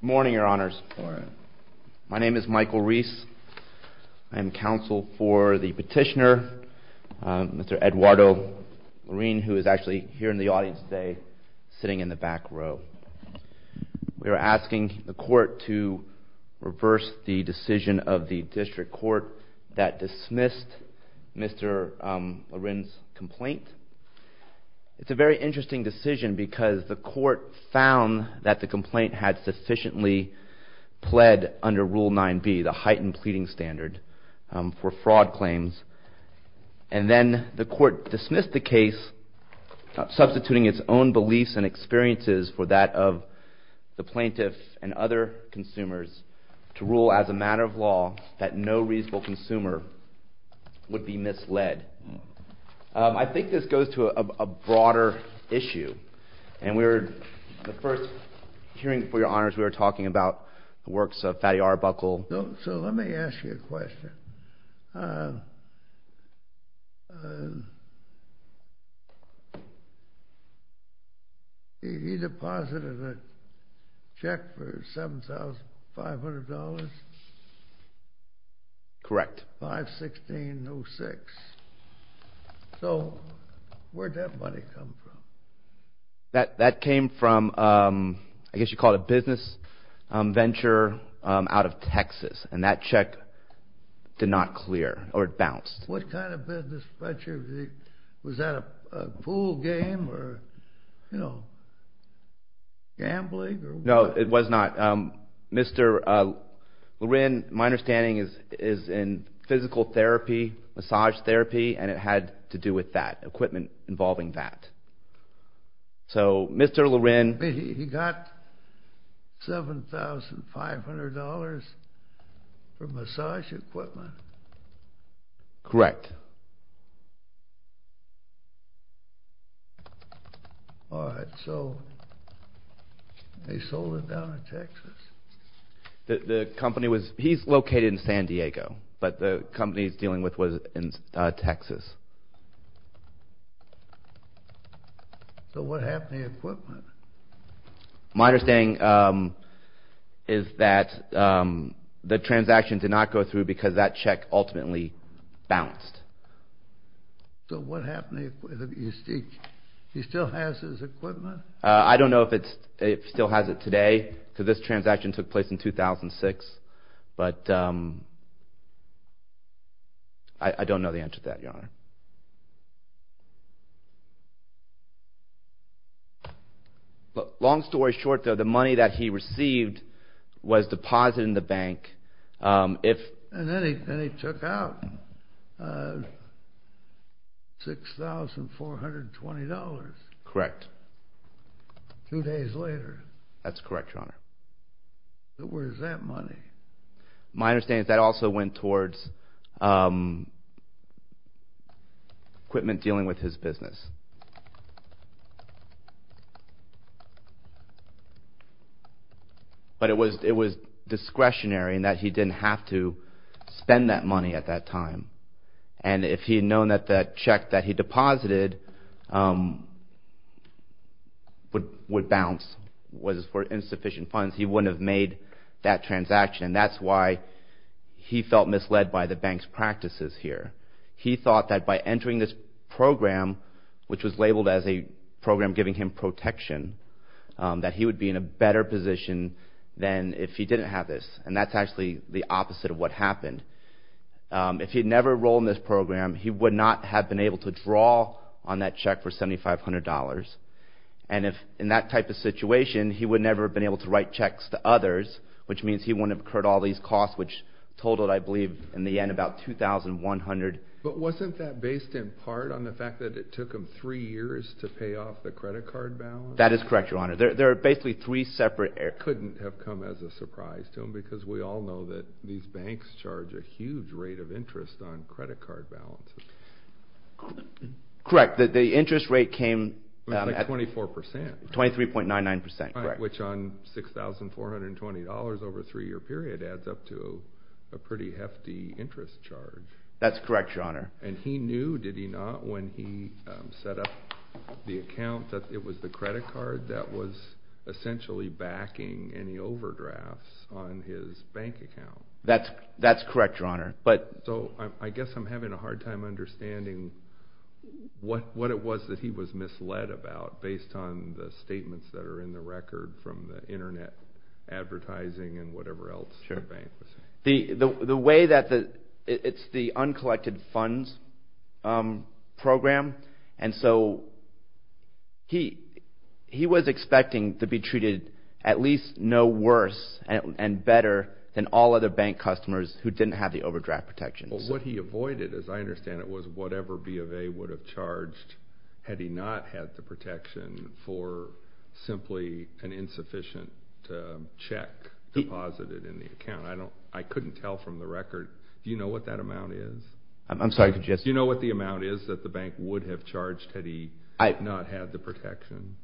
Good morning, your honors. My name is Michael Reese. I am counsel for the petitioner, Mr. Eduardo Larin, who is actually here in the audience today, sitting in the back row. We are asking the court to reverse the decision of the district court that dismissed Mr. Larin's complaint. It's a very interesting decision because the court found that the complaint had sufficiently pled under Rule 9b, the heightened pleading standard, for fraud claims. And then the court dismissed the case, substituting its own beliefs and experiences for that of the plaintiff and other consumers, to rule as a matter of law that no reasonable consumer would be misled. I think this goes to a broader issue, and the first hearing, for your honors, we were talking about the works of Fatty Arbuckle. So let me ask you a question. He deposited a check for $7,500? Correct. $516.06. So where'd that money come from? That came from, I guess you'd call it a business venture out of Texas, and that check did not clear, or it bounced. What kind of business venture? Was that a pool game or, you know, gambling? No, it was not. Mr. Larin, my understanding, is in physical therapy, massage therapy, and it had to do with that, equipment involving that. So, Mr. Larin... He got $7,500 for massage equipment? Correct. All right. So they sold it down in Texas? The company was... He's located in San Diego, but the company he's dealing with was in Texas. My understanding is that the transaction did not go through because that check ultimately bounced. So what happened? He still has his equipment? I don't know if he still has it today, because this transaction took place in 2006, but I don't know the answer to that, Your Honor. Long story short, though, the money that he received was deposited in the bank. And then he took out $6,420. Correct. Two days later. That's correct, Your Honor. Where is that money? My understanding is that also went towards equipment dealing with his business. But it was discretionary in that he didn't have to spend that money at that time. And if he had known that the check that he deposited would bounce, was for insufficient funds, he wouldn't have made that transaction. And that's why he felt misled by the bank's practices here. He thought that by entering this program, which was labeled as a program giving him protection, that he would be in a better position than if he didn't have this. And that's actually the opposite of what happened. If he had never enrolled in this program, he would not have been able to draw on that check for $7,500. And in that type of situation, he would never have been able to write checks to others, which means he wouldn't have incurred all these costs, which totaled, I believe, in the end, about $2,100. But wasn't that based in part on the fact that it took him three years to pay off the credit card balance? That is correct, Your Honor. There are basically three separate areas. That couldn't have come as a surprise to him because we all know that these banks charge a huge rate of interest on credit card balances. Correct. The interest rate came at 23.99%. Which on $6,420 over a three-year period adds up to a pretty hefty interest charge. That's correct, Your Honor. And he knew, did he not, when he set up the account that it was the credit card that was essentially backing any overdrafts on his bank account? That's correct, Your Honor. So I guess I'm having a hard time understanding what it was that he was misled about based on the statements that are in the record from the Internet advertising and whatever else the bank was saying. The way that the, it's the uncollected funds program. And so he was expecting to be treated at least no worse and better than all other bank customers who didn't have the overdraft protections. Well, what he avoided, as I understand it, was whatever B of A would have charged had he not had the protection for simply an insufficient check deposited in the account. I couldn't tell from the record. Do you know what that amount is? I'm sorry, could you ask? Do you know what the amount is that the bank would have charged had he not had the protection?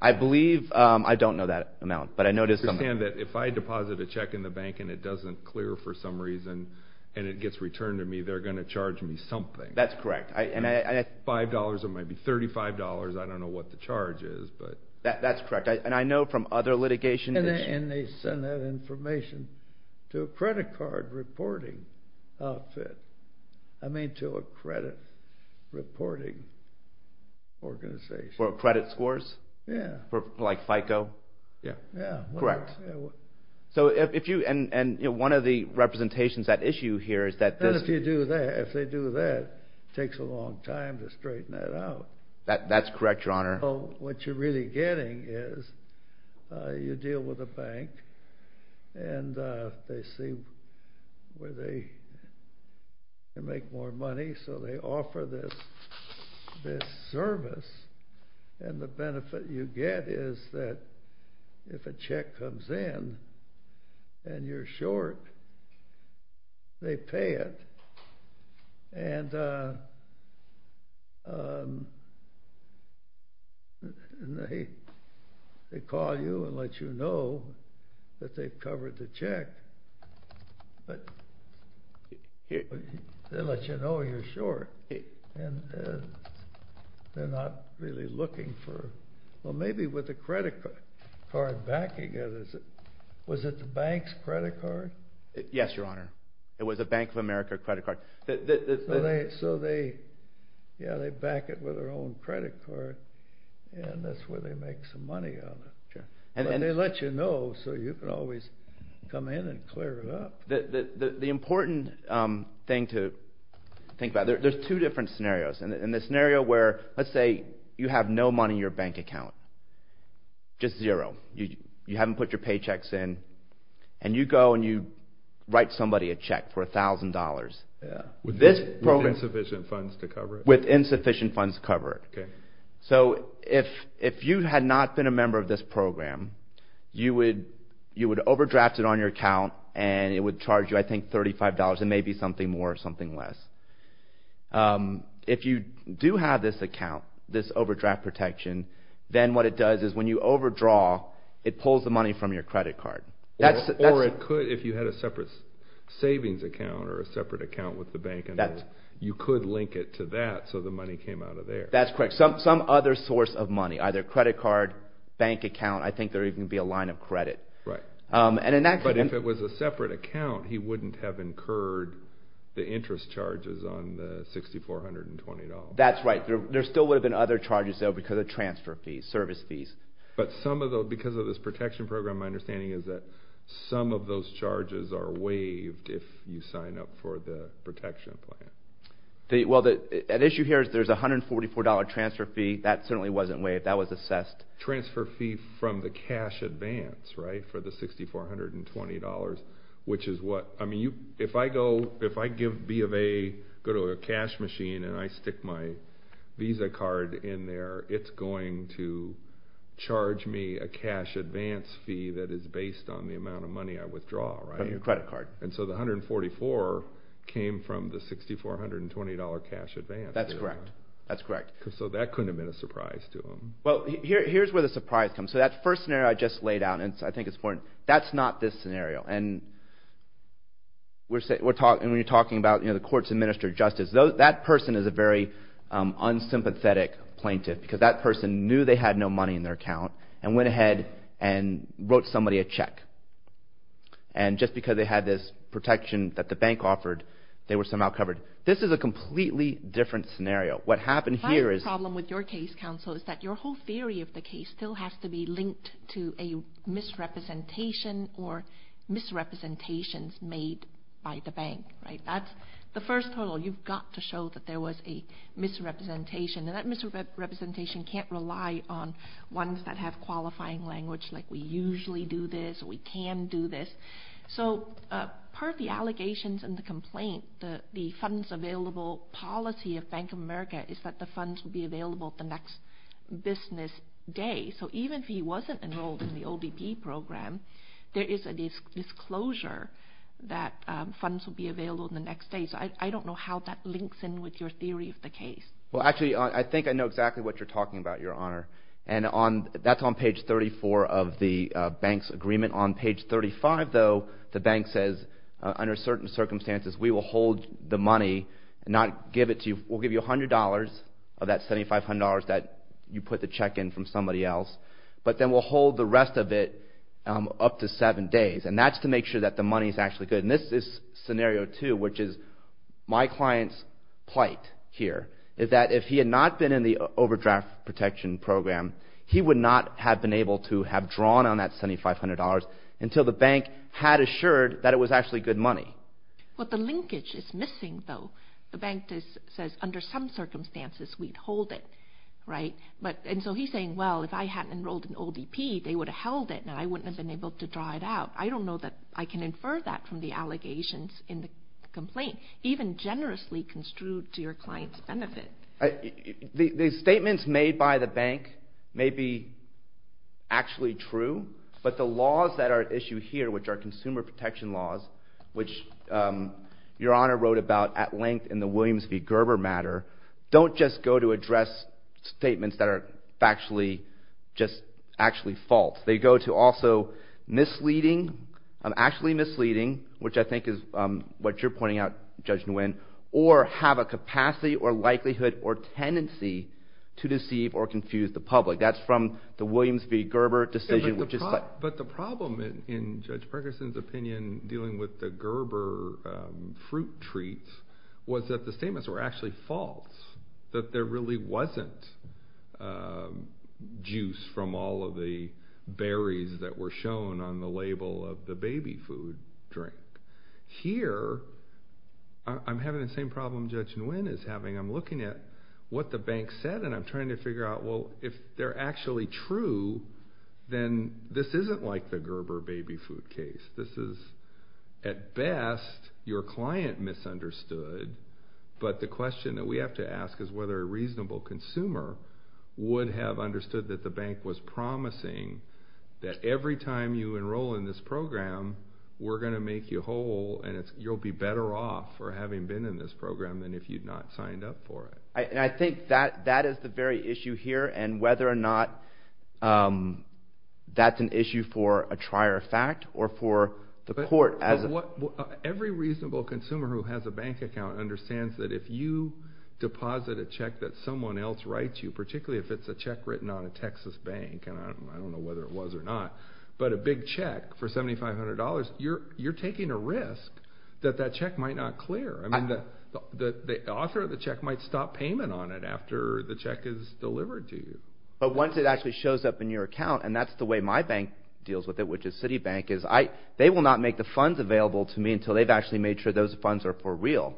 I believe, I don't know that amount, but I know there's something. Understand that if I deposit a check in the bank and it doesn't clear for some reason and it gets returned to me, they're going to charge me something. That's correct. $5, it might be $35, I don't know what the charge is, but. That's correct. And I know from other litigation issues. And they send that information to a credit card reporting outfit, I mean to a credit reporting organization. For credit scores? Yeah. Like FICO? Yeah. Correct. So if you, and one of the representations that issue here is that this. And if you do that, if they do that, it takes a long time to straighten that out. That's correct, Your Honor. What you're really getting is you deal with a bank and they see where they can make more money, so they offer this service. And the benefit you get is that if a check comes in and you're short, they pay it. And they call you and let you know that they've covered the check, but they let you know you're short. And they're not really looking for, well maybe with a credit card backing it. Was it the bank's credit card? Yes, Your Honor. It was a Bank of America credit card. So they, yeah, they back it with their own credit card. And that's where they make some money on it. But they let you know so you can always come in and clear it up. The important thing to think about, there's two different scenarios. And the scenario where, let's say you have no money in your bank account, just zero. You haven't put your paychecks in. And you go and you write somebody a check for $1,000. With insufficient funds to cover it. With insufficient funds to cover it. So if you had not been a member of this program, you would overdraft it on your account and it would charge you, I think, $35. It may be something more or something less. If you do have this account, this overdraft protection, then what it does is when you overdraw, it pulls the money from your credit card. Or it could, if you had a separate savings account or a separate account with the bank, you could link it to that so the money came out of there. That's correct. Some other source of money, either credit card, bank account, I think there would even be a line of credit. Right. But if it was a separate account, he wouldn't have incurred the interest charges on the $6,420. That's right. There still would have been other charges, though, because of transfer fees, service fees. But some of those, because of this protection program, my understanding is that some of those charges are waived if you sign up for the protection plan. Well, the issue here is there's a $144 transfer fee. That certainly wasn't waived. That was assessed. Transfer fee from the cash advance, right, for the $6,420, which is what, I mean, if I give B of A, go to a cash machine and I stick my Visa card in there, it's going to charge me a cash advance fee that is based on the amount of money I withdraw, right? From your credit card. And so the $144 came from the $6,420 cash advance. That's correct. So that couldn't have been a surprise to him. Well, here's where the surprise comes. So that first scenario I just laid out, and I think it's important, that's not this scenario. And we're talking about, you know, the courts administer justice. That person is a very unsympathetic plaintiff because that person knew they had no money in their account and went ahead and wrote somebody a check. And just because they had this protection that the bank offered, they were somehow covered. This is a completely different scenario. What happened here is — My problem with your case, counsel, is that your whole theory of the case still has to be linked to a misrepresentation or misrepresentations made by the bank. Right? That's the first hurdle. You've got to show that there was a misrepresentation. And that misrepresentation can't rely on ones that have qualifying language like we usually do this or we can do this. So part of the allegations and the complaint, the funds available policy of Bank of America is that the funds will be available the next business day. So even if he wasn't enrolled in the ODP program, there is a disclosure that funds will be available the next day. So I don't know how that links in with your theory of the case. Well, actually, I think I know exactly what you're talking about, Your Honor. That's on page 34 of the bank's agreement. On page 35, though, the bank says, under certain circumstances, we will hold the money and not give it to you. We'll give you $100 of that $7,500 that you put the check in from somebody else, but then we'll hold the rest of it up to seven days. And that's to make sure that the money is actually good. And this is scenario two, which is my client's plight here. Is that if he had not been in the overdraft protection program, he would not have been able to have drawn on that $7,500 until the bank had assured that it was actually good money. Well, the linkage is missing, though. The bank says, under some circumstances, we'd hold it, right? And so he's saying, well, if I hadn't enrolled in ODP, they would have held it and I wouldn't have been able to draw it out. I don't know that I can infer that from the allegations in the complaint. Even generously construed to your client's benefit. The statements made by the bank may be actually true, but the laws that are at issue here, which are consumer protection laws, which Your Honor wrote about at length in the Williams v. Gerber matter, don't just go to address statements that are factually just actually false. They go to also misleading, actually misleading, which I think is what you're pointing out, Judge Nguyen, or have a capacity or likelihood or tendency to deceive or confuse the public. That's from the Williams v. Gerber decision. But the problem in Judge Perkinson's opinion dealing with the Gerber fruit treats was that the statements were actually false. That there really wasn't juice from all of the berries that were shown on the label of the baby food drink. Here, I'm having the same problem Judge Nguyen is having. I'm looking at what the bank said and I'm trying to figure out, well, if they're actually true, then this isn't like the Gerber baby food case. This is, at best, your client misunderstood, but the question that we have to ask is whether a reasonable consumer would have understood that the bank was promising that every time you enroll in this program, we're going to make you whole and you'll be better off for having been in this program than if you'd not signed up for it. And I think that is the very issue here and whether or not that's an issue for a trier of fact or for the court. Every reasonable consumer who has a bank account understands that if you deposit a check that someone else writes you, particularly if it's a check written on a Texas bank, and I don't know whether it was or not, but a big check for $7,500, you're taking a risk that that check might not clear. I mean, the author of the check might stop payment on it after the check is delivered to you. But once it actually shows up in your account, and that's the way my bank deals with it, which is Citibank, is they will not make the funds available to me until they've actually made sure those funds are for real.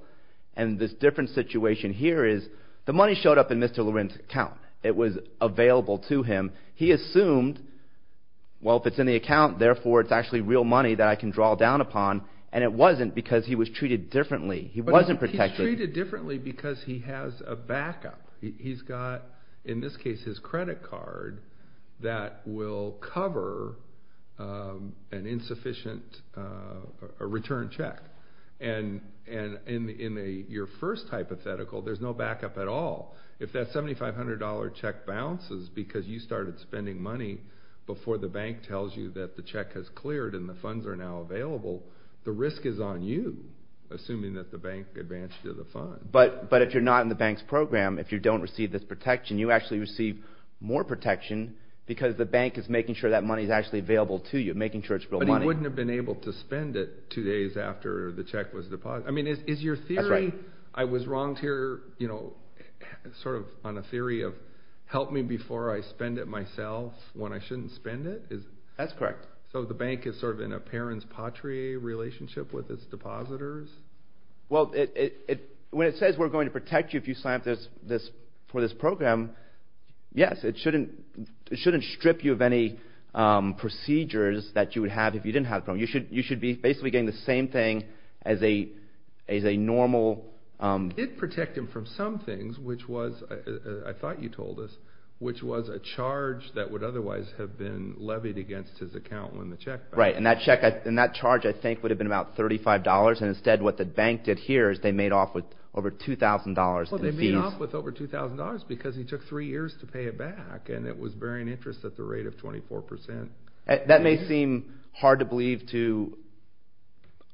And this different situation here is the money showed up in Mr. Loren's account. It was available to him. He assumed, well, if it's in the account, therefore it's actually real money that I can draw down upon, and it wasn't because he was treated differently. He wasn't protected. He's treated differently because he has a backup. He's got, in this case, his credit card that will cover an insufficient return check. And in your first hypothetical, there's no backup at all. If that $7,500 check bounces because you started spending money before the bank tells you that the check has cleared and the funds are now available, the risk is on you, assuming that the bank advanced you to the fund. But if you're not in the bank's program, if you don't receive this protection, you actually receive more protection because the bank is making sure that money is actually available to you, making sure it's real money. But he wouldn't have been able to spend it two days after the check was deposited. I mean, is your theory, I was wrong here, you know, sort of on a theory of help me before I spend it myself when I shouldn't spend it? That's correct. So the bank is sort of in a parents-patrie relationship with its depositors? Well, when it says we're going to protect you if you sign up for this program, yes, it shouldn't strip you of any procedures that you would have if you didn't have the program. You should be basically getting the same thing as a normal... It did protect him from some things, which was, I thought you told us, which was a charge that would otherwise have been levied against his account when the check bounced. Right, and that charge, I think, would have been about $35, and instead what the bank did here is they made off with over $2,000 in fees. Well, they made off with over $2,000 because he took three years to pay it back, and it was bearing interest at the rate of 24%. That may seem hard to believe to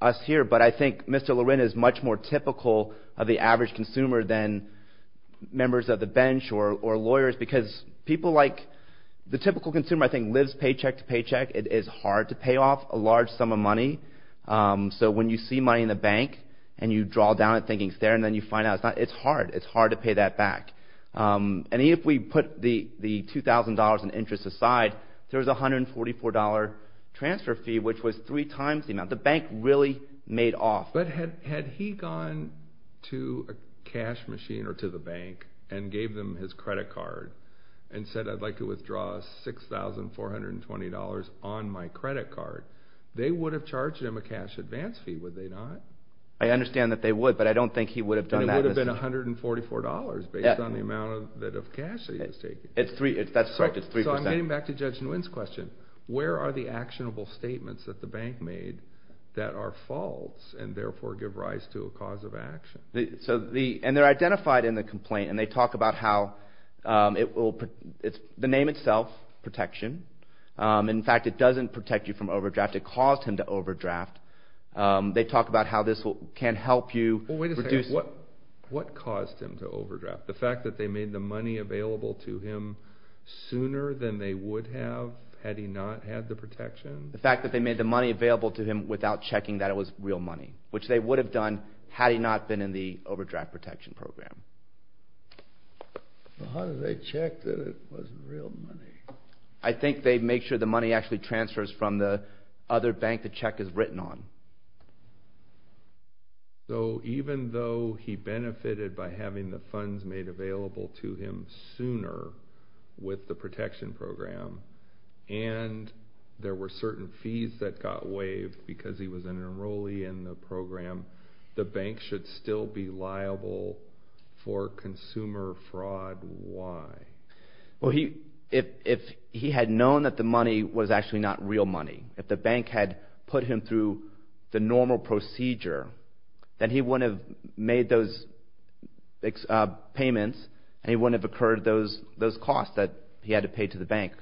us here, but I think Mr. Lorin is much more typical of the average consumer than members of the bench or lawyers because people like... The typical consumer, I think, lives paycheck to paycheck. It is hard to pay off a large sum of money. So when you see money in the bank and you draw down it thinking it's there and then you find out it's not, it's hard. It's hard to pay that back. And even if we put the $2,000 in interest aside, there was a $144 transfer fee, which was three times the amount. The bank really made off. But had he gone to a cash machine or to the bank and gave them his credit card and said, I'd like to withdraw $6,420 on my credit card, they would have charged him a cash advance fee, would they not? I understand that they would, but I don't think he would have done that. It would have been $144 based on the amount of cash that he was taking. That's correct. It's 3%. So I'm getting back to Judge Nguyen's question. Where are the actionable statements that the bank made that are false and therefore give rise to a cause of action? And they're identified in the complaint, and they talk about how it will – the name itself, protection. In fact, it doesn't protect you from overdraft. It caused him to overdraft. They talk about how this can help you reduce – Wait a second. What caused him to overdraft? The fact that they made the money available to him sooner than they would have had he not had the protection? The fact that they made the money available to him without checking that it was real money, which they would have done had he not been in the overdraft protection program. How did they check that it wasn't real money? I think they make sure the money actually transfers from the other bank that the check is written on. So even though he benefited by having the funds made available to him sooner with the protection program, and there were certain fees that got waived because he was an enrollee in the program, the bank should still be liable for consumer fraud. Why? Well, if he had known that the money was actually not real money, if the bank had put him through the normal procedure, then he wouldn't have made those payments and it wouldn't have occurred those costs that he had to pay to the bank.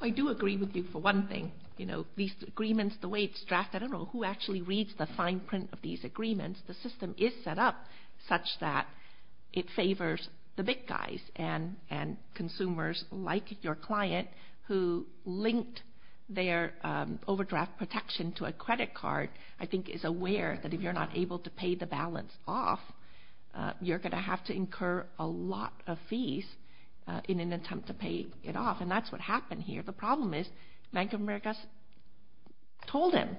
I do agree with you for one thing. You know, these agreements, the way it's drafted, I don't know who actually reads the fine print of these agreements. The system is set up such that it favors the big guys and consumers like your client, who linked their overdraft protection to a credit card, I think is aware that if you're not able to pay the balance off, you're going to have to incur a lot of fees in an attempt to pay it off. And that's what happened here. The problem is Bank of America told him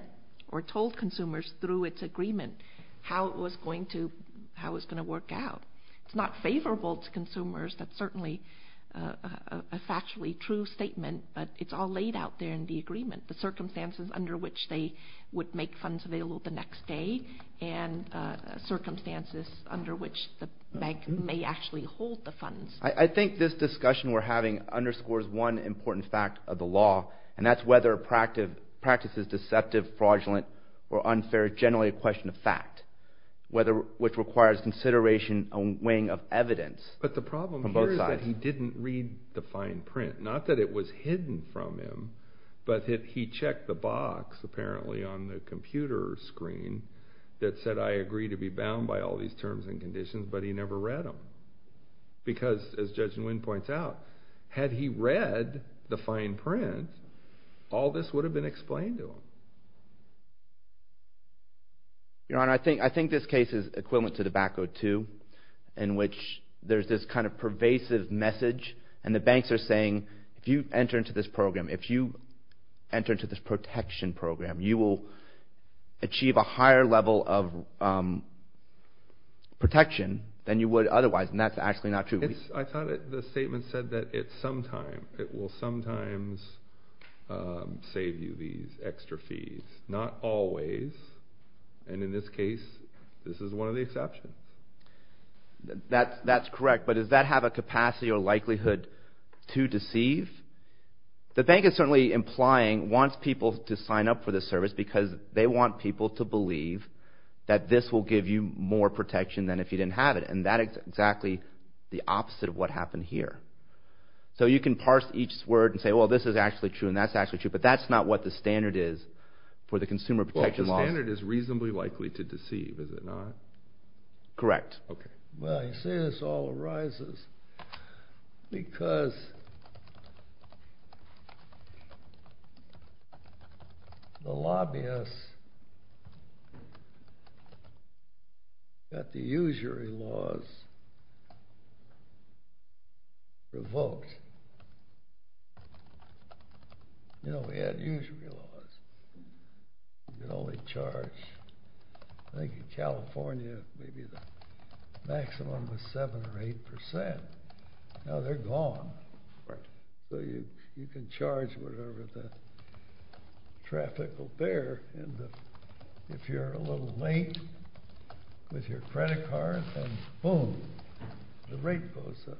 or told consumers through its agreement how it was going to work out. It's not favorable to consumers. That's certainly a factually true statement, but it's all laid out there in the agreement, the circumstances under which they would make funds available the next day and circumstances under which the bank may actually hold the funds. I think this discussion we're having underscores one important fact of the law, and that's whether a practice is deceptive, fraudulent, or unfair, generally a question of fact, which requires consideration and weighing of evidence from both sides. But the problem here is that he didn't read the fine print. Not that it was hidden from him, but he checked the box apparently on the computer screen that said I agree to be bound by all these terms and conditions, but he never read them because, as Judge Nguyen points out, had he read the fine print, all this would have been explained to him. Your Honor, I think this case is equivalent to the BAC02 in which there's this kind of pervasive message, and the banks are saying if you enter into this program, if you enter into this protection program, you will achieve a higher level of protection than you would otherwise, and that's actually not true. I thought the statement said that it will sometimes save you these extra fees. Not always, and in this case, this is one of the exceptions. That's correct, but does that have a capacity or likelihood to deceive? The bank is certainly implying wants people to sign up for this service because they want people to believe that this will give you more protection than if you didn't have it, and that is exactly the opposite of what happened here. So you can parse each word and say, well, this is actually true and that's actually true, but that's not what the standard is for the consumer protection laws. Well, the standard is reasonably likely to deceive, is it not? Correct. Well, you see this all arises because the lobbyists got the usury laws revoked. You know, we had usury laws. You could only charge, I think in California, maybe the maximum was 7% or 8%. Now they're gone. So you can charge whatever the traffic will bear, and if you're a little late with your credit card, then boom, the rate goes up.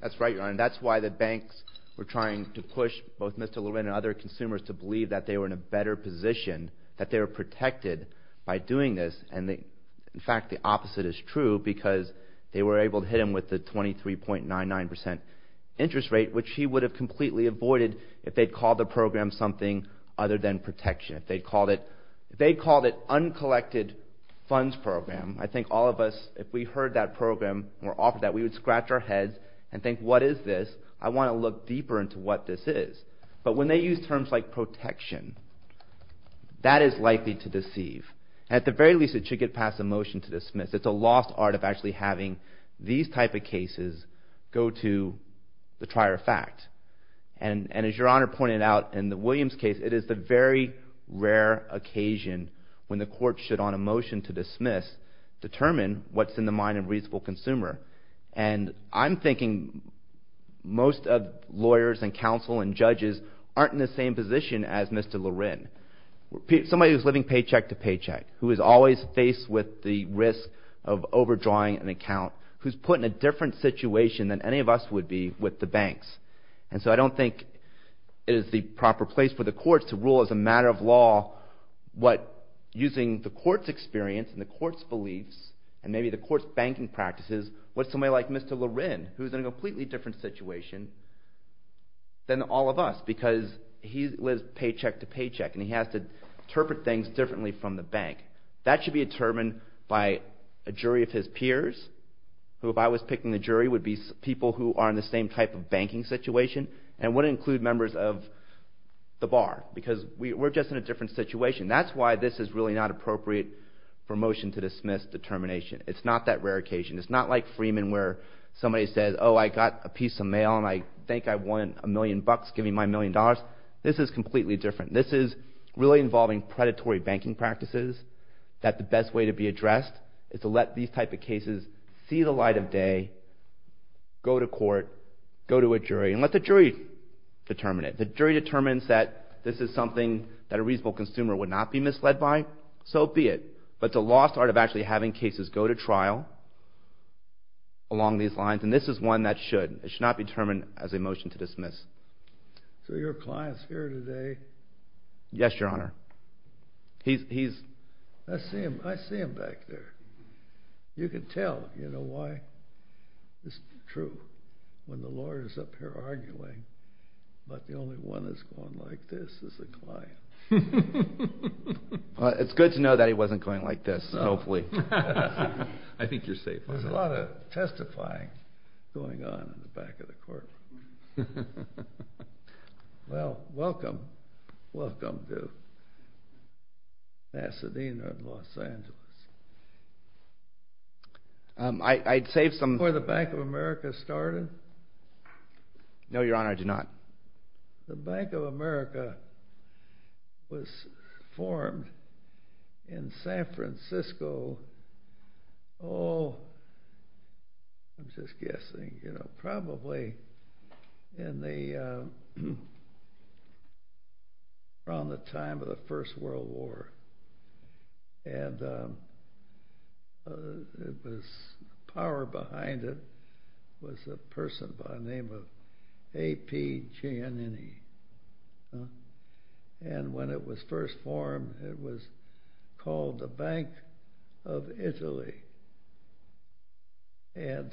That's right, Your Honor. That's why the banks were trying to push both Mr. Levin and other consumers to believe that they were in a better position, that they were protected by doing this, and in fact the opposite is true because they were able to hit him with the 23.99% interest rate, which he would have completely avoided if they'd called the program something other than protection. If they'd called it uncollected funds program, I think all of us, if we heard that program or offered that, we would scratch our heads and think, what is this? I want to look deeper into what this is. But when they use terms like protection, that is likely to deceive. At the very least, it should get passed a motion to dismiss. It's a lost art of actually having these type of cases go to the trier of fact, and as Your Honor pointed out in the Williams case, it is the very rare occasion when the court should, on a motion to dismiss, determine what's in the mind of a reasonable consumer. And I'm thinking most of lawyers and counsel and judges aren't in the same position as Mr. Levin. Somebody who's living paycheck to paycheck, who is always faced with the risk of overdrawing an account, who's put in a different situation than any of us would be with the banks. And so I don't think it is the proper place for the courts to rule as a matter of law using the court's experience and the court's beliefs and maybe the court's banking practices with somebody like Mr. Levin, who's in a completely different situation than all of us because he lives paycheck to paycheck and he has to interpret things differently from the bank. That should be determined by a jury of his peers, who if I was picking the jury, would be people who are in the same type of banking situation and would include members of the bar because we're just in a different situation. That's why this is really not appropriate for motion to dismiss determination. It's not that rare occasion. It's not like Freeman where somebody says, oh, I got a piece of mail and I think I won a million bucks, give me my million dollars. This is completely different. This is really involving predatory banking practices that the best way to be addressed is to let these type of cases see the light of day, go to court, go to a jury, and let the jury determine it. If the jury determines that this is something that a reasonable consumer would not be misled by, so be it. But the law's part of actually having cases go to trial along these lines, and this is one that should. It should not be determined as a motion to dismiss. So your client's here today. Yes, Your Honor. He's... I see him. I see him back there. You can tell, you know, why it's true when the lawyer's up here arguing, but the only one that's going like this is the client. It's good to know that he wasn't going like this, hopefully. I think you're safe. There's a lot of testifying going on in the back of the courtroom. Well, welcome. Welcome to Pasadena, Los Angeles. I'd save some... Before the Bank of America started? No, Your Honor, I do not. The Bank of America was formed in San Francisco, oh, I'm just guessing, you know, probably around the time of the First World War. And the power behind it was a person by the name of A.P. Giannini. And when it was first formed, it was called the Bank of Italy. And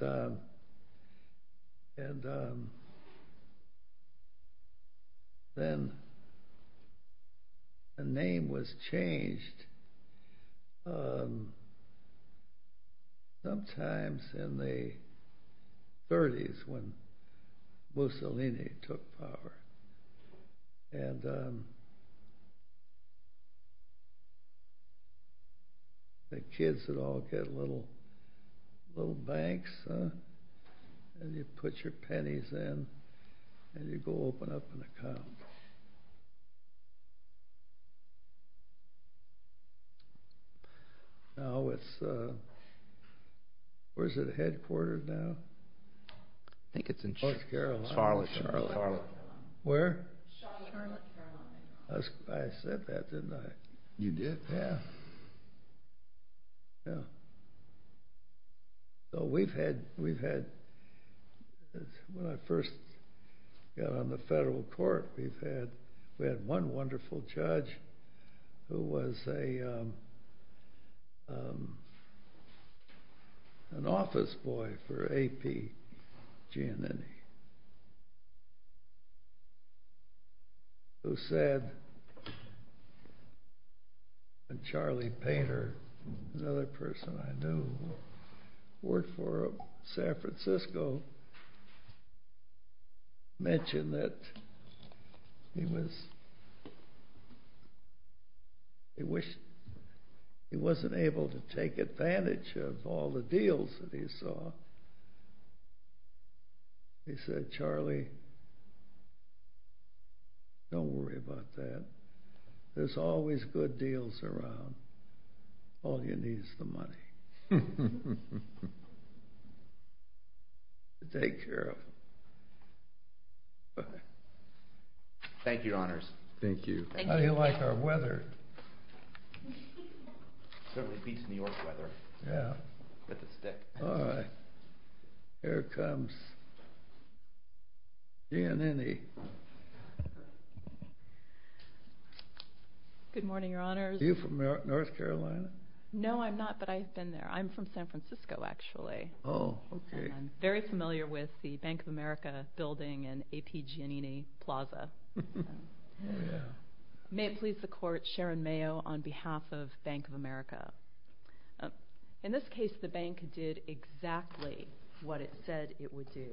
then the name was changed sometimes in the 30s when Mussolini took power. And the kids would all get little banks, and you'd put your pennies in, and you'd go open up an account. Now, where's it headquartered now? I think it's in North Carolina. Charlotte. Charlotte. Where? Charlotte, Carolina. I said that, didn't I? You did? Yeah. Yeah. So we've had, when I first got on the federal court, we had one wonderful judge who was an office boy for A.P. Giannini, who said when Charlie Painter, another person I knew who worked for San Francisco, mentioned that he wasn't able to take advantage of all the deals that he saw. He said, Charlie, don't worry about that. There's always good deals around. All you need is the money to take care of it. Thank you, Your Honors. Thank you. How do you like our weather? Certainly beats New York weather. Yeah. With a stick. All right. Here comes Giannini. Good morning, Your Honors. Are you from North Carolina? No, I'm not, but I've been there. I'm from San Francisco, actually. Oh, okay. And I'm very familiar with the Bank of America building and A.P. Giannini Plaza. May it please the Court, Sharon Mayo on behalf of Bank of America. In this case, the bank did exactly what it said it would do.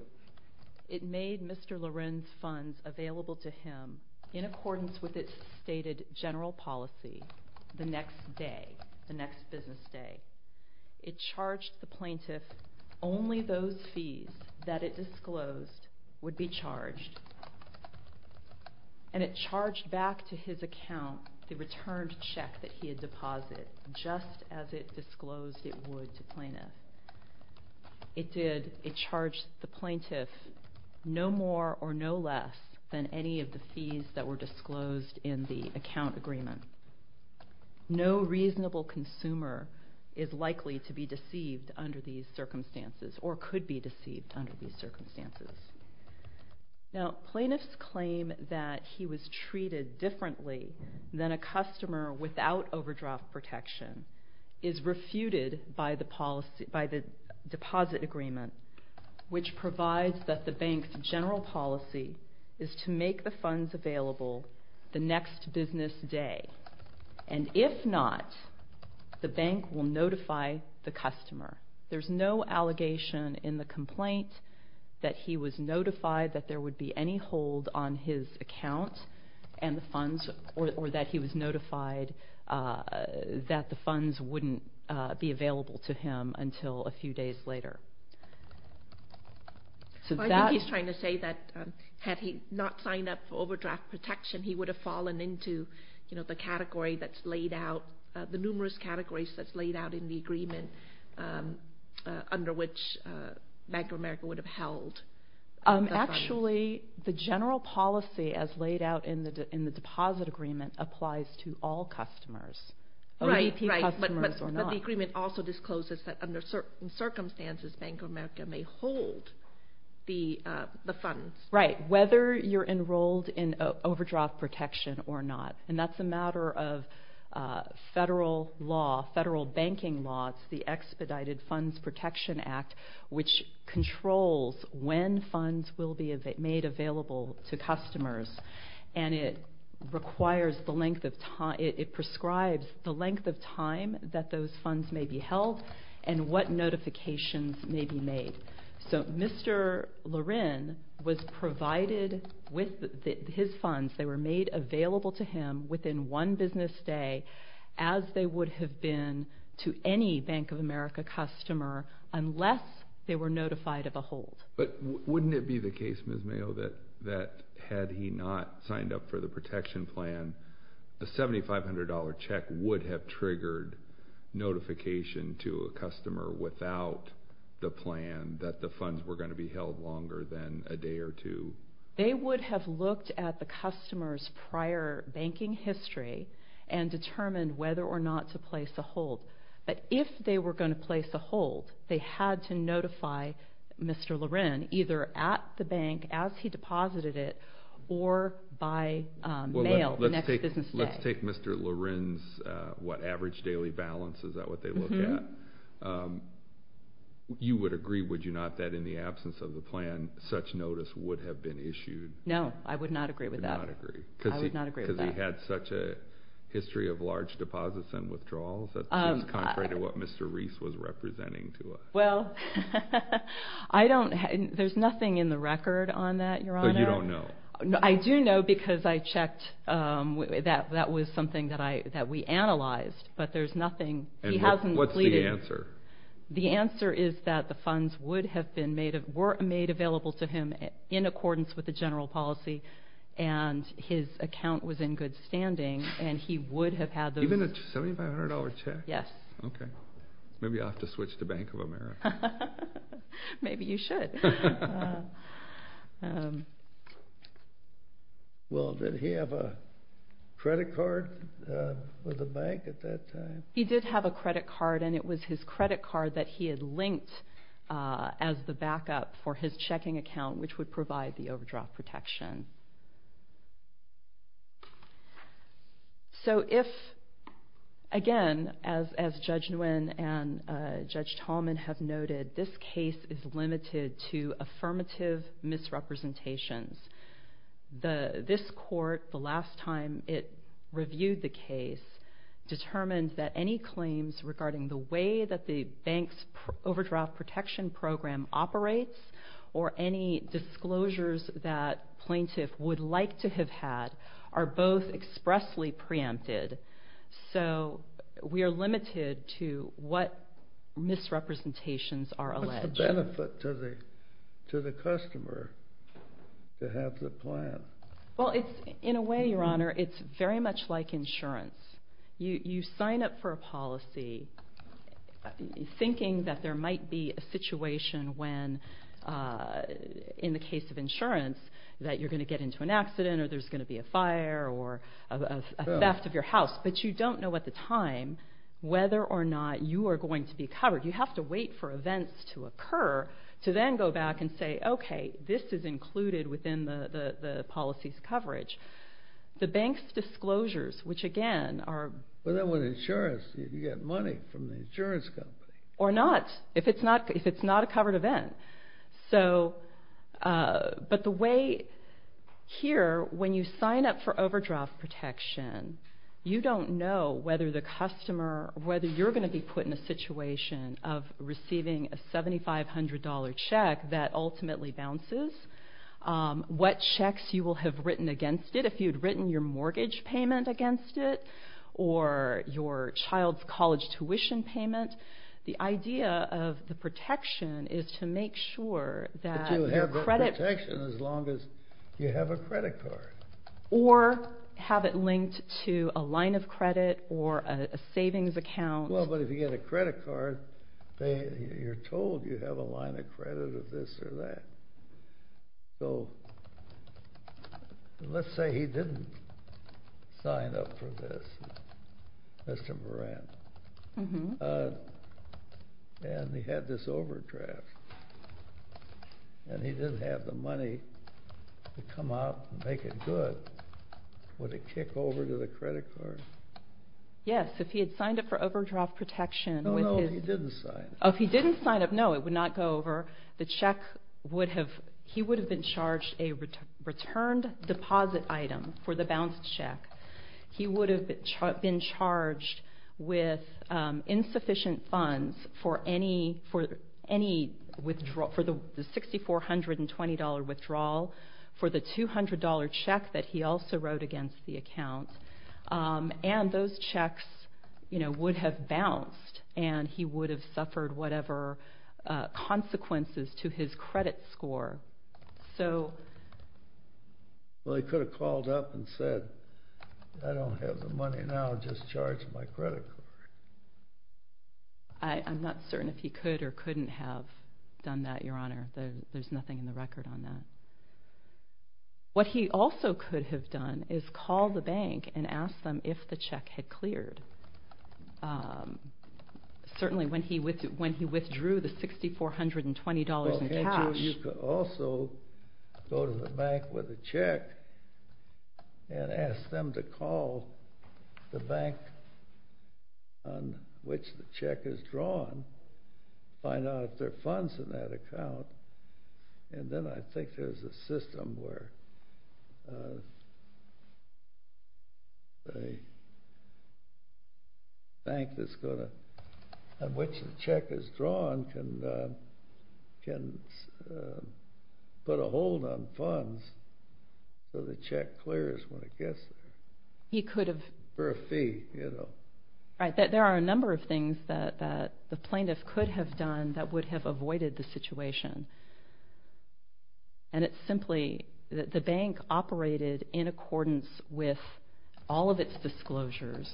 It made Mr. Loren's funds available to him in accordance with its stated general policy the next day, the next business day. It charged the plaintiff only those fees that it disclosed would be charged. And it charged back to his account the returned check that he had deposited, just as it disclosed it would to plaintiffs. It did. It charged the plaintiff no more or no less than any of the fees that were disclosed in the account agreement. No reasonable consumer is likely to be deceived under these circumstances or could be deceived under these circumstances. Now, plaintiffs' claim that he was treated differently than a customer without overdraft protection is refuted by the deposit agreement, which provides that the bank's general policy is to make the funds available the next business day. And if not, the bank will notify the customer. There's no allegation in the complaint that he was notified that there would be any hold on his account or that he was notified that the funds wouldn't be available to him until a few days later. I think he's trying to say that had he not signed up for overdraft protection, he would have fallen into the category that's laid out, the numerous categories that's laid out in the agreement under which Bank of America would have held the funds. Actually, the general policy as laid out in the deposit agreement applies to all customers, OVP customers or not. Right, right, but the agreement also discloses that under certain circumstances, Bank of America may hold the funds. Right, whether you're enrolled in overdraft protection or not. And that's a matter of federal law, federal banking law. It's the Expedited Funds Protection Act, which controls when funds will be made available to customers. And it requires the length of time, it prescribes the length of time that those funds may be held and what notifications may be made. So Mr. Lorin was provided with his funds, they were made available to him within one business day as they would have been to any Bank of America customer unless they were notified of a hold. But wouldn't it be the case, Ms. Mayo, that had he not signed up for the protection plan, a $7,500 check would have triggered notification to a customer without the plan that the funds were going to be held longer than a day or two? They would have looked at the customer's prior banking history and determined whether or not to place a hold. But if they were going to place a hold, they had to notify Mr. Lorin either at the bank as he deposited it or by mail the next business day. Let's take Mr. Lorin's average daily balance, is that what they look at? You would agree, would you not, that in the absence of the plan, such notice would have been issued? No, I would not agree with that. You would not agree? I would not agree with that. Because he had such a history of large deposits and withdrawals? That's just contrary to what Mr. Reese was representing to us. Well, there's nothing in the record on that, Your Honor. So you don't know? I do know because I checked. That was something that we analyzed, but there's nothing. What's the answer? The answer is that the funds were made available to him in accordance with the general policy and his account was in good standing and he would have had those. Even a $7,500 check? Yes. Okay. Maybe I'll have to switch to Bank of America. Maybe you should. Well, did he have a credit card with the bank at that time? He did have a credit card and it was his credit card that he had linked as the backup for his checking account, which would provide the overdraft protection. So if, again, as Judge Nguyen and Judge Tallman have noted, this case is limited to affirmative misrepresentations. This court, the last time it reviewed the case, determined that any claims regarding the way that the bank's overdraft protection program operates or any disclosures that plaintiff would like to have had are both expressly preempted. So we are limited to what misrepresentations are alleged. What's the benefit to the customer to have the plan? Well, in a way, Your Honor, it's very much like insurance. You sign up for a policy thinking that there might be a situation when, in the case of insurance, that you're going to get into an accident or there's going to be a fire or a theft of your house, but you don't know at the time whether or not you are going to be covered. You have to wait for events to occur to then go back and say, The bank's disclosures, which, again, are... But then with insurance, you get money from the insurance company. Or not, if it's not a covered event. But the way here, when you sign up for overdraft protection, you don't know whether you're going to be put in a situation of receiving a $7,500 check that ultimately bounces, what checks you will have written against it, if you'd written your mortgage payment against it or your child's college tuition payment. The idea of the protection is to make sure that your credit... But you have protection as long as you have a credit card. Or have it linked to a line of credit or a savings account. Well, but if you get a credit card, you're told you have a line of credit of this or that. So let's say he didn't sign up for this, Mr. Moran. And he had this overdraft. And he didn't have the money to come out and make it good. Would it kick over to the credit card? Yes, if he had signed up for overdraft protection. No, no, if he didn't sign up. If he didn't sign up, no, it would not go over. The check would have... He would have been charged a returned deposit item for the bounced check. He would have been charged with insufficient funds for any withdrawal, for the $6,420 withdrawal for the $200 check that he also wrote against the account. And those checks would have bounced, and he would have suffered whatever consequences to his credit score. So... Well, he could have called up and said, I don't have the money now, just charge my credit card. I'm not certain if he could or couldn't have done that, Your Honor. There's nothing in the record on that. What he also could have done is called the bank and asked them if the check had cleared, certainly when he withdrew the $6,420 in cash. Well, he could also go to the bank with a check and ask them to call the bank on which the check is drawn, find out if there are funds in that account, and then I think there's a system where the bank that's going to... on which the check is drawn can put a hold on funds so the check clears when it gets there. He could have... For a fee, you know. Right. There are a number of things that the plaintiff could have done that would have avoided the situation. And it's simply... The bank operated in accordance with all of its disclosures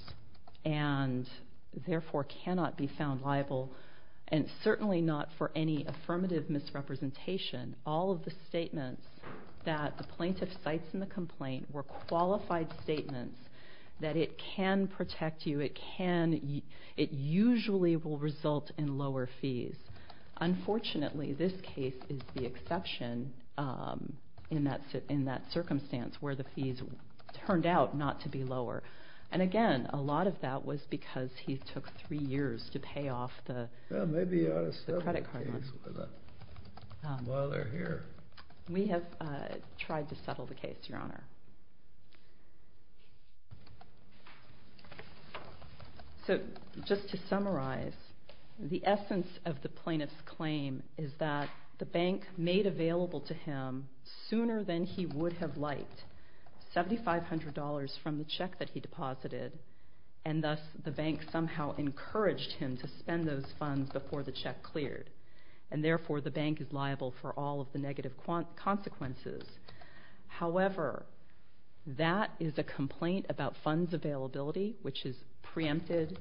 and therefore cannot be found liable, and certainly not for any affirmative misrepresentation. All of the statements that the plaintiff cites in the complaint were qualified statements that it can protect you, it usually will result in lower fees. Unfortunately, this case is the exception in that circumstance where the fees turned out not to be lower. And again, a lot of that was because he took three years to pay off the... Maybe you ought to settle the case while they're here. We have tried to settle the case, Your Honor. So just to summarize, the essence of the plaintiff's claim is that the bank made available to him, sooner than he would have liked, $7,500 from the check that he deposited, and thus the bank somehow encouraged him to spend those funds before the check cleared, and therefore the bank is liable for all of the negative consequences. However, that is a complaint about funds availability, which is preempted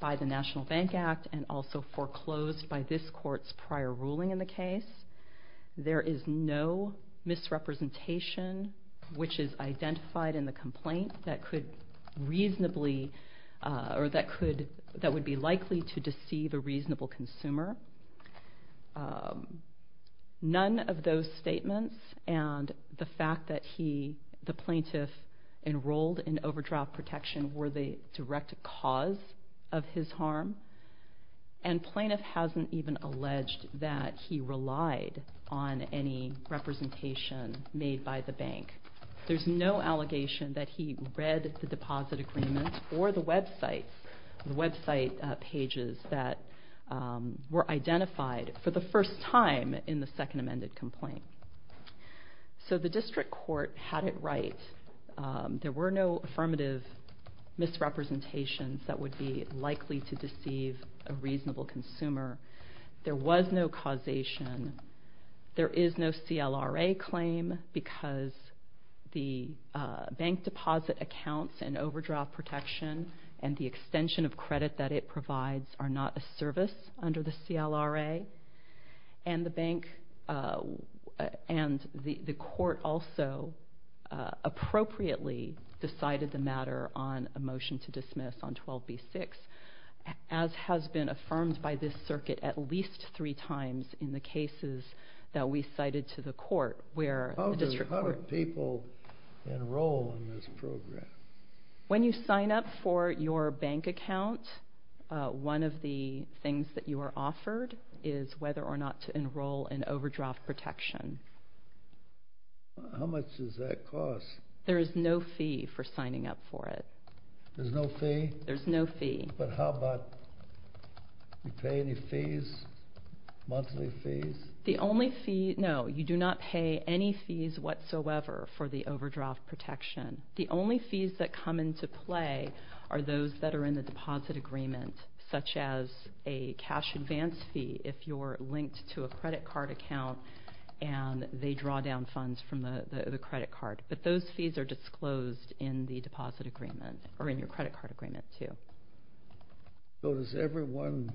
by the National Bank Act and also foreclosed by this court's prior ruling in the case. There is no misrepresentation which is identified in the complaint that would be likely to deceive a reasonable consumer. None of those statements and the fact that the plaintiff enrolled in overdraft protection were the direct cause of his harm, and plaintiff hasn't even alleged that he relied on any representation made by the bank. There's no allegation that he read the deposit agreement or the website pages that were identified for the first time in the second amended complaint. So the district court had it right. There were no affirmative misrepresentations that would be likely to deceive a reasonable consumer. There was no causation. There is no CLRA claim because the bank deposit accounts and overdraft protection and the extension of credit that it provides are not a service under the CLRA, and the court also appropriately decided the matter on a motion to dismiss on 12b-6, as has been affirmed by this circuit at least three times in the cases that we cited to the court. How do people enroll in this program? When you sign up for your bank account, one of the things that you are offered is whether or not to enroll in overdraft protection. How much does that cost? There is no fee for signing up for it. There's no fee? There's no fee. But how about you pay any fees, monthly fees? The only fee, no, you do not pay any fees whatsoever for the overdraft protection. The only fees that come into play are those that are in the deposit agreement, such as a cash advance fee if you're linked to a credit card account and they draw down funds from the credit card. But those fees are disclosed in the deposit agreement or in your credit card agreement, too. So does everyone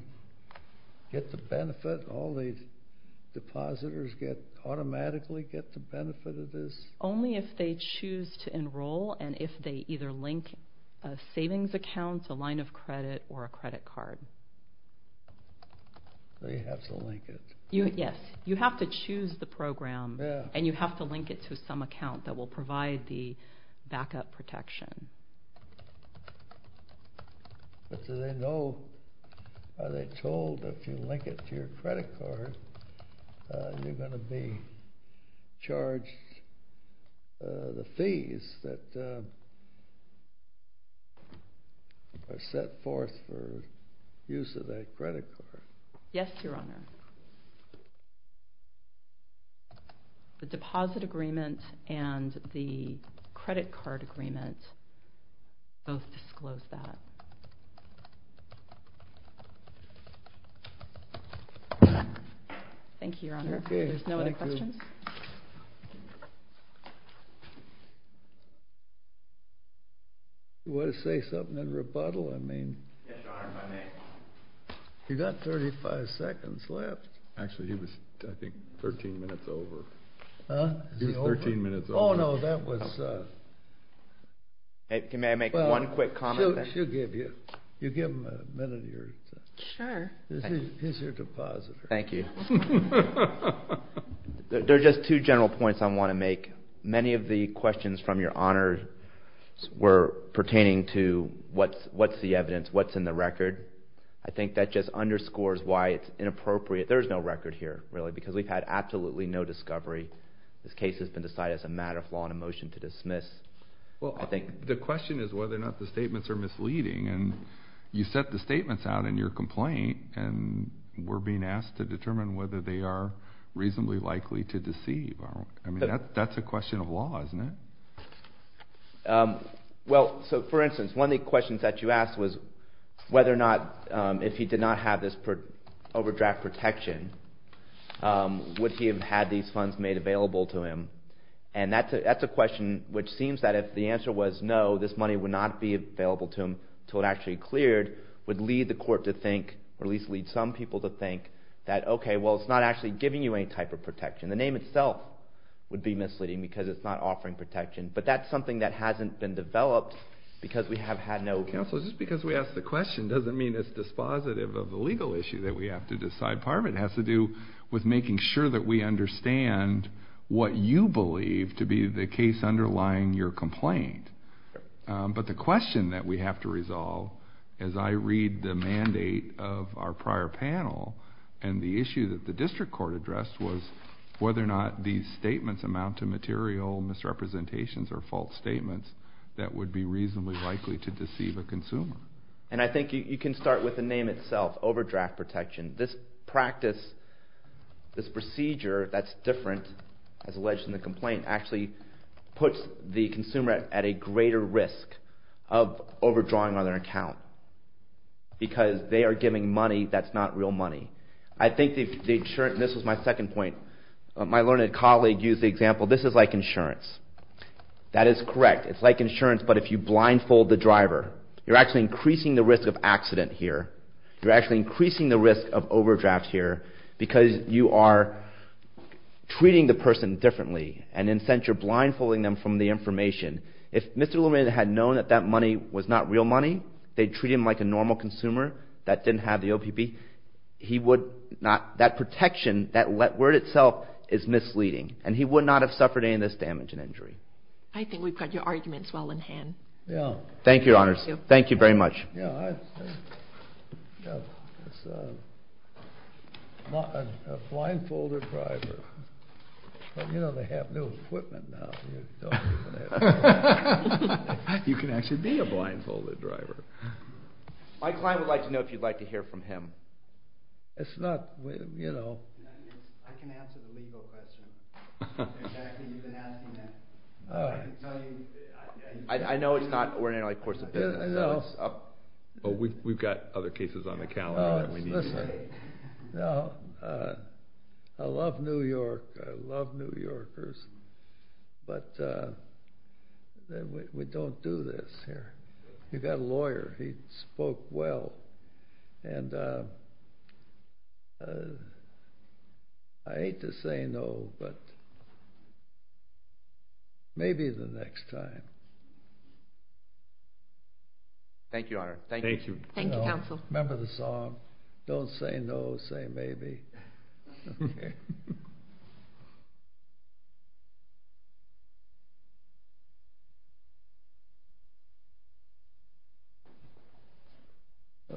get the benefit? All the depositors automatically get the benefit of this? Only if they choose to enroll and if they either link a savings account, a line of credit, or a credit card. They have to link it. Yes, you have to choose the program and you have to link it to some account that will provide the backup protection. But do they know, are they told if you link it to your credit card you're going to be charged the fees that are set forth for use of that credit card? Yes, Your Honor. The deposit agreement and the credit card agreement Thank you, Your Honor. Okay, thank you. You want to say something in rebuttal? Yes, Your Honor, if I may. You've got 35 seconds left. Actually, he was, I think, 13 minutes over. Huh? He was 13 minutes over. Oh, no, that was... May I make one quick comment? She'll give you... You give him a minute of your time. Sure. He's your depositor. Thank you. There are just two general points I want to make. Many of the questions from Your Honor were pertaining to what's the evidence, what's in the record. I think that just underscores why it's inappropriate. There's no record here, really, because we've had absolutely no discovery. This case has been decided as a matter of law and a motion to dismiss. Well, the question is whether or not the statements are misleading. And you set the statements out in your complaint and we're being asked to determine whether they are reasonably likely to deceive. I mean, that's a question of law, isn't it? Well, so, for instance, one of the questions that you asked was whether or not, if he did not have this overdraft protection, would he have had these funds made available to him? And that's a question which seems that if the answer was no, this money would not be available to him until it actually cleared, would lead the court to think, or at least lead some people to think, that, okay, well, it's not actually giving you any type of protection. The name itself would be misleading because it's not offering protection. But that's something that hasn't been developed because we have had no... Counsel, just because we ask the question doesn't mean it's dispositive of the legal issue that we have to decide. Part of it has to do with making sure that we understand what you believe to be the case underlying your complaint. But the question that we have to resolve as I read the mandate of our prior panel and the issue that the district court addressed was whether or not these statements amount to material misrepresentations or false statements that would be reasonably likely to deceive a consumer. And I think you can start with the name itself, overdraft protection. This practice, this procedure that's different, as alleged in the complaint, actually puts the consumer at a greater risk of overdrawing on their account because they are giving money that's not real money. I think the insurance... This was my second point. My learned colleague used the example. This is like insurance. That is correct. It's like insurance, but if you blindfold the driver, you're actually increasing the risk of accident here. You're actually increasing the risk of overdraft here because you are treating the person differently. And in a sense, you're blindfolding them from the information. If Mr. Lumina had known that that money was not real money, they'd treat him like a normal consumer that didn't have the OPP. He would not... That protection, that word itself, is misleading, and he would not have suffered any of this damage and injury. I think we've got your arguments well in hand. Yeah. Thank you, Your Honors. Thank you very much. Yeah, I... It's a... A blindfolded driver. But you know they have new equipment now. You can actually be a blindfolded driver. My client would like to know if you'd like to hear from him. It's not, you know... I can answer the legal question. Exactly, you've been asking that. I can tell you... I know it's not... I know. Oh, we've got other cases on the calendar that we need to say. No. I love New York. I love New Yorkers. But we don't do this here. We've got a lawyer. He spoke well. And I hate to say no, but maybe the next time. Thank you, Your Honor. Thank you. Thank you, Counsel. Remember the song, Don't say no, say maybe. Okay.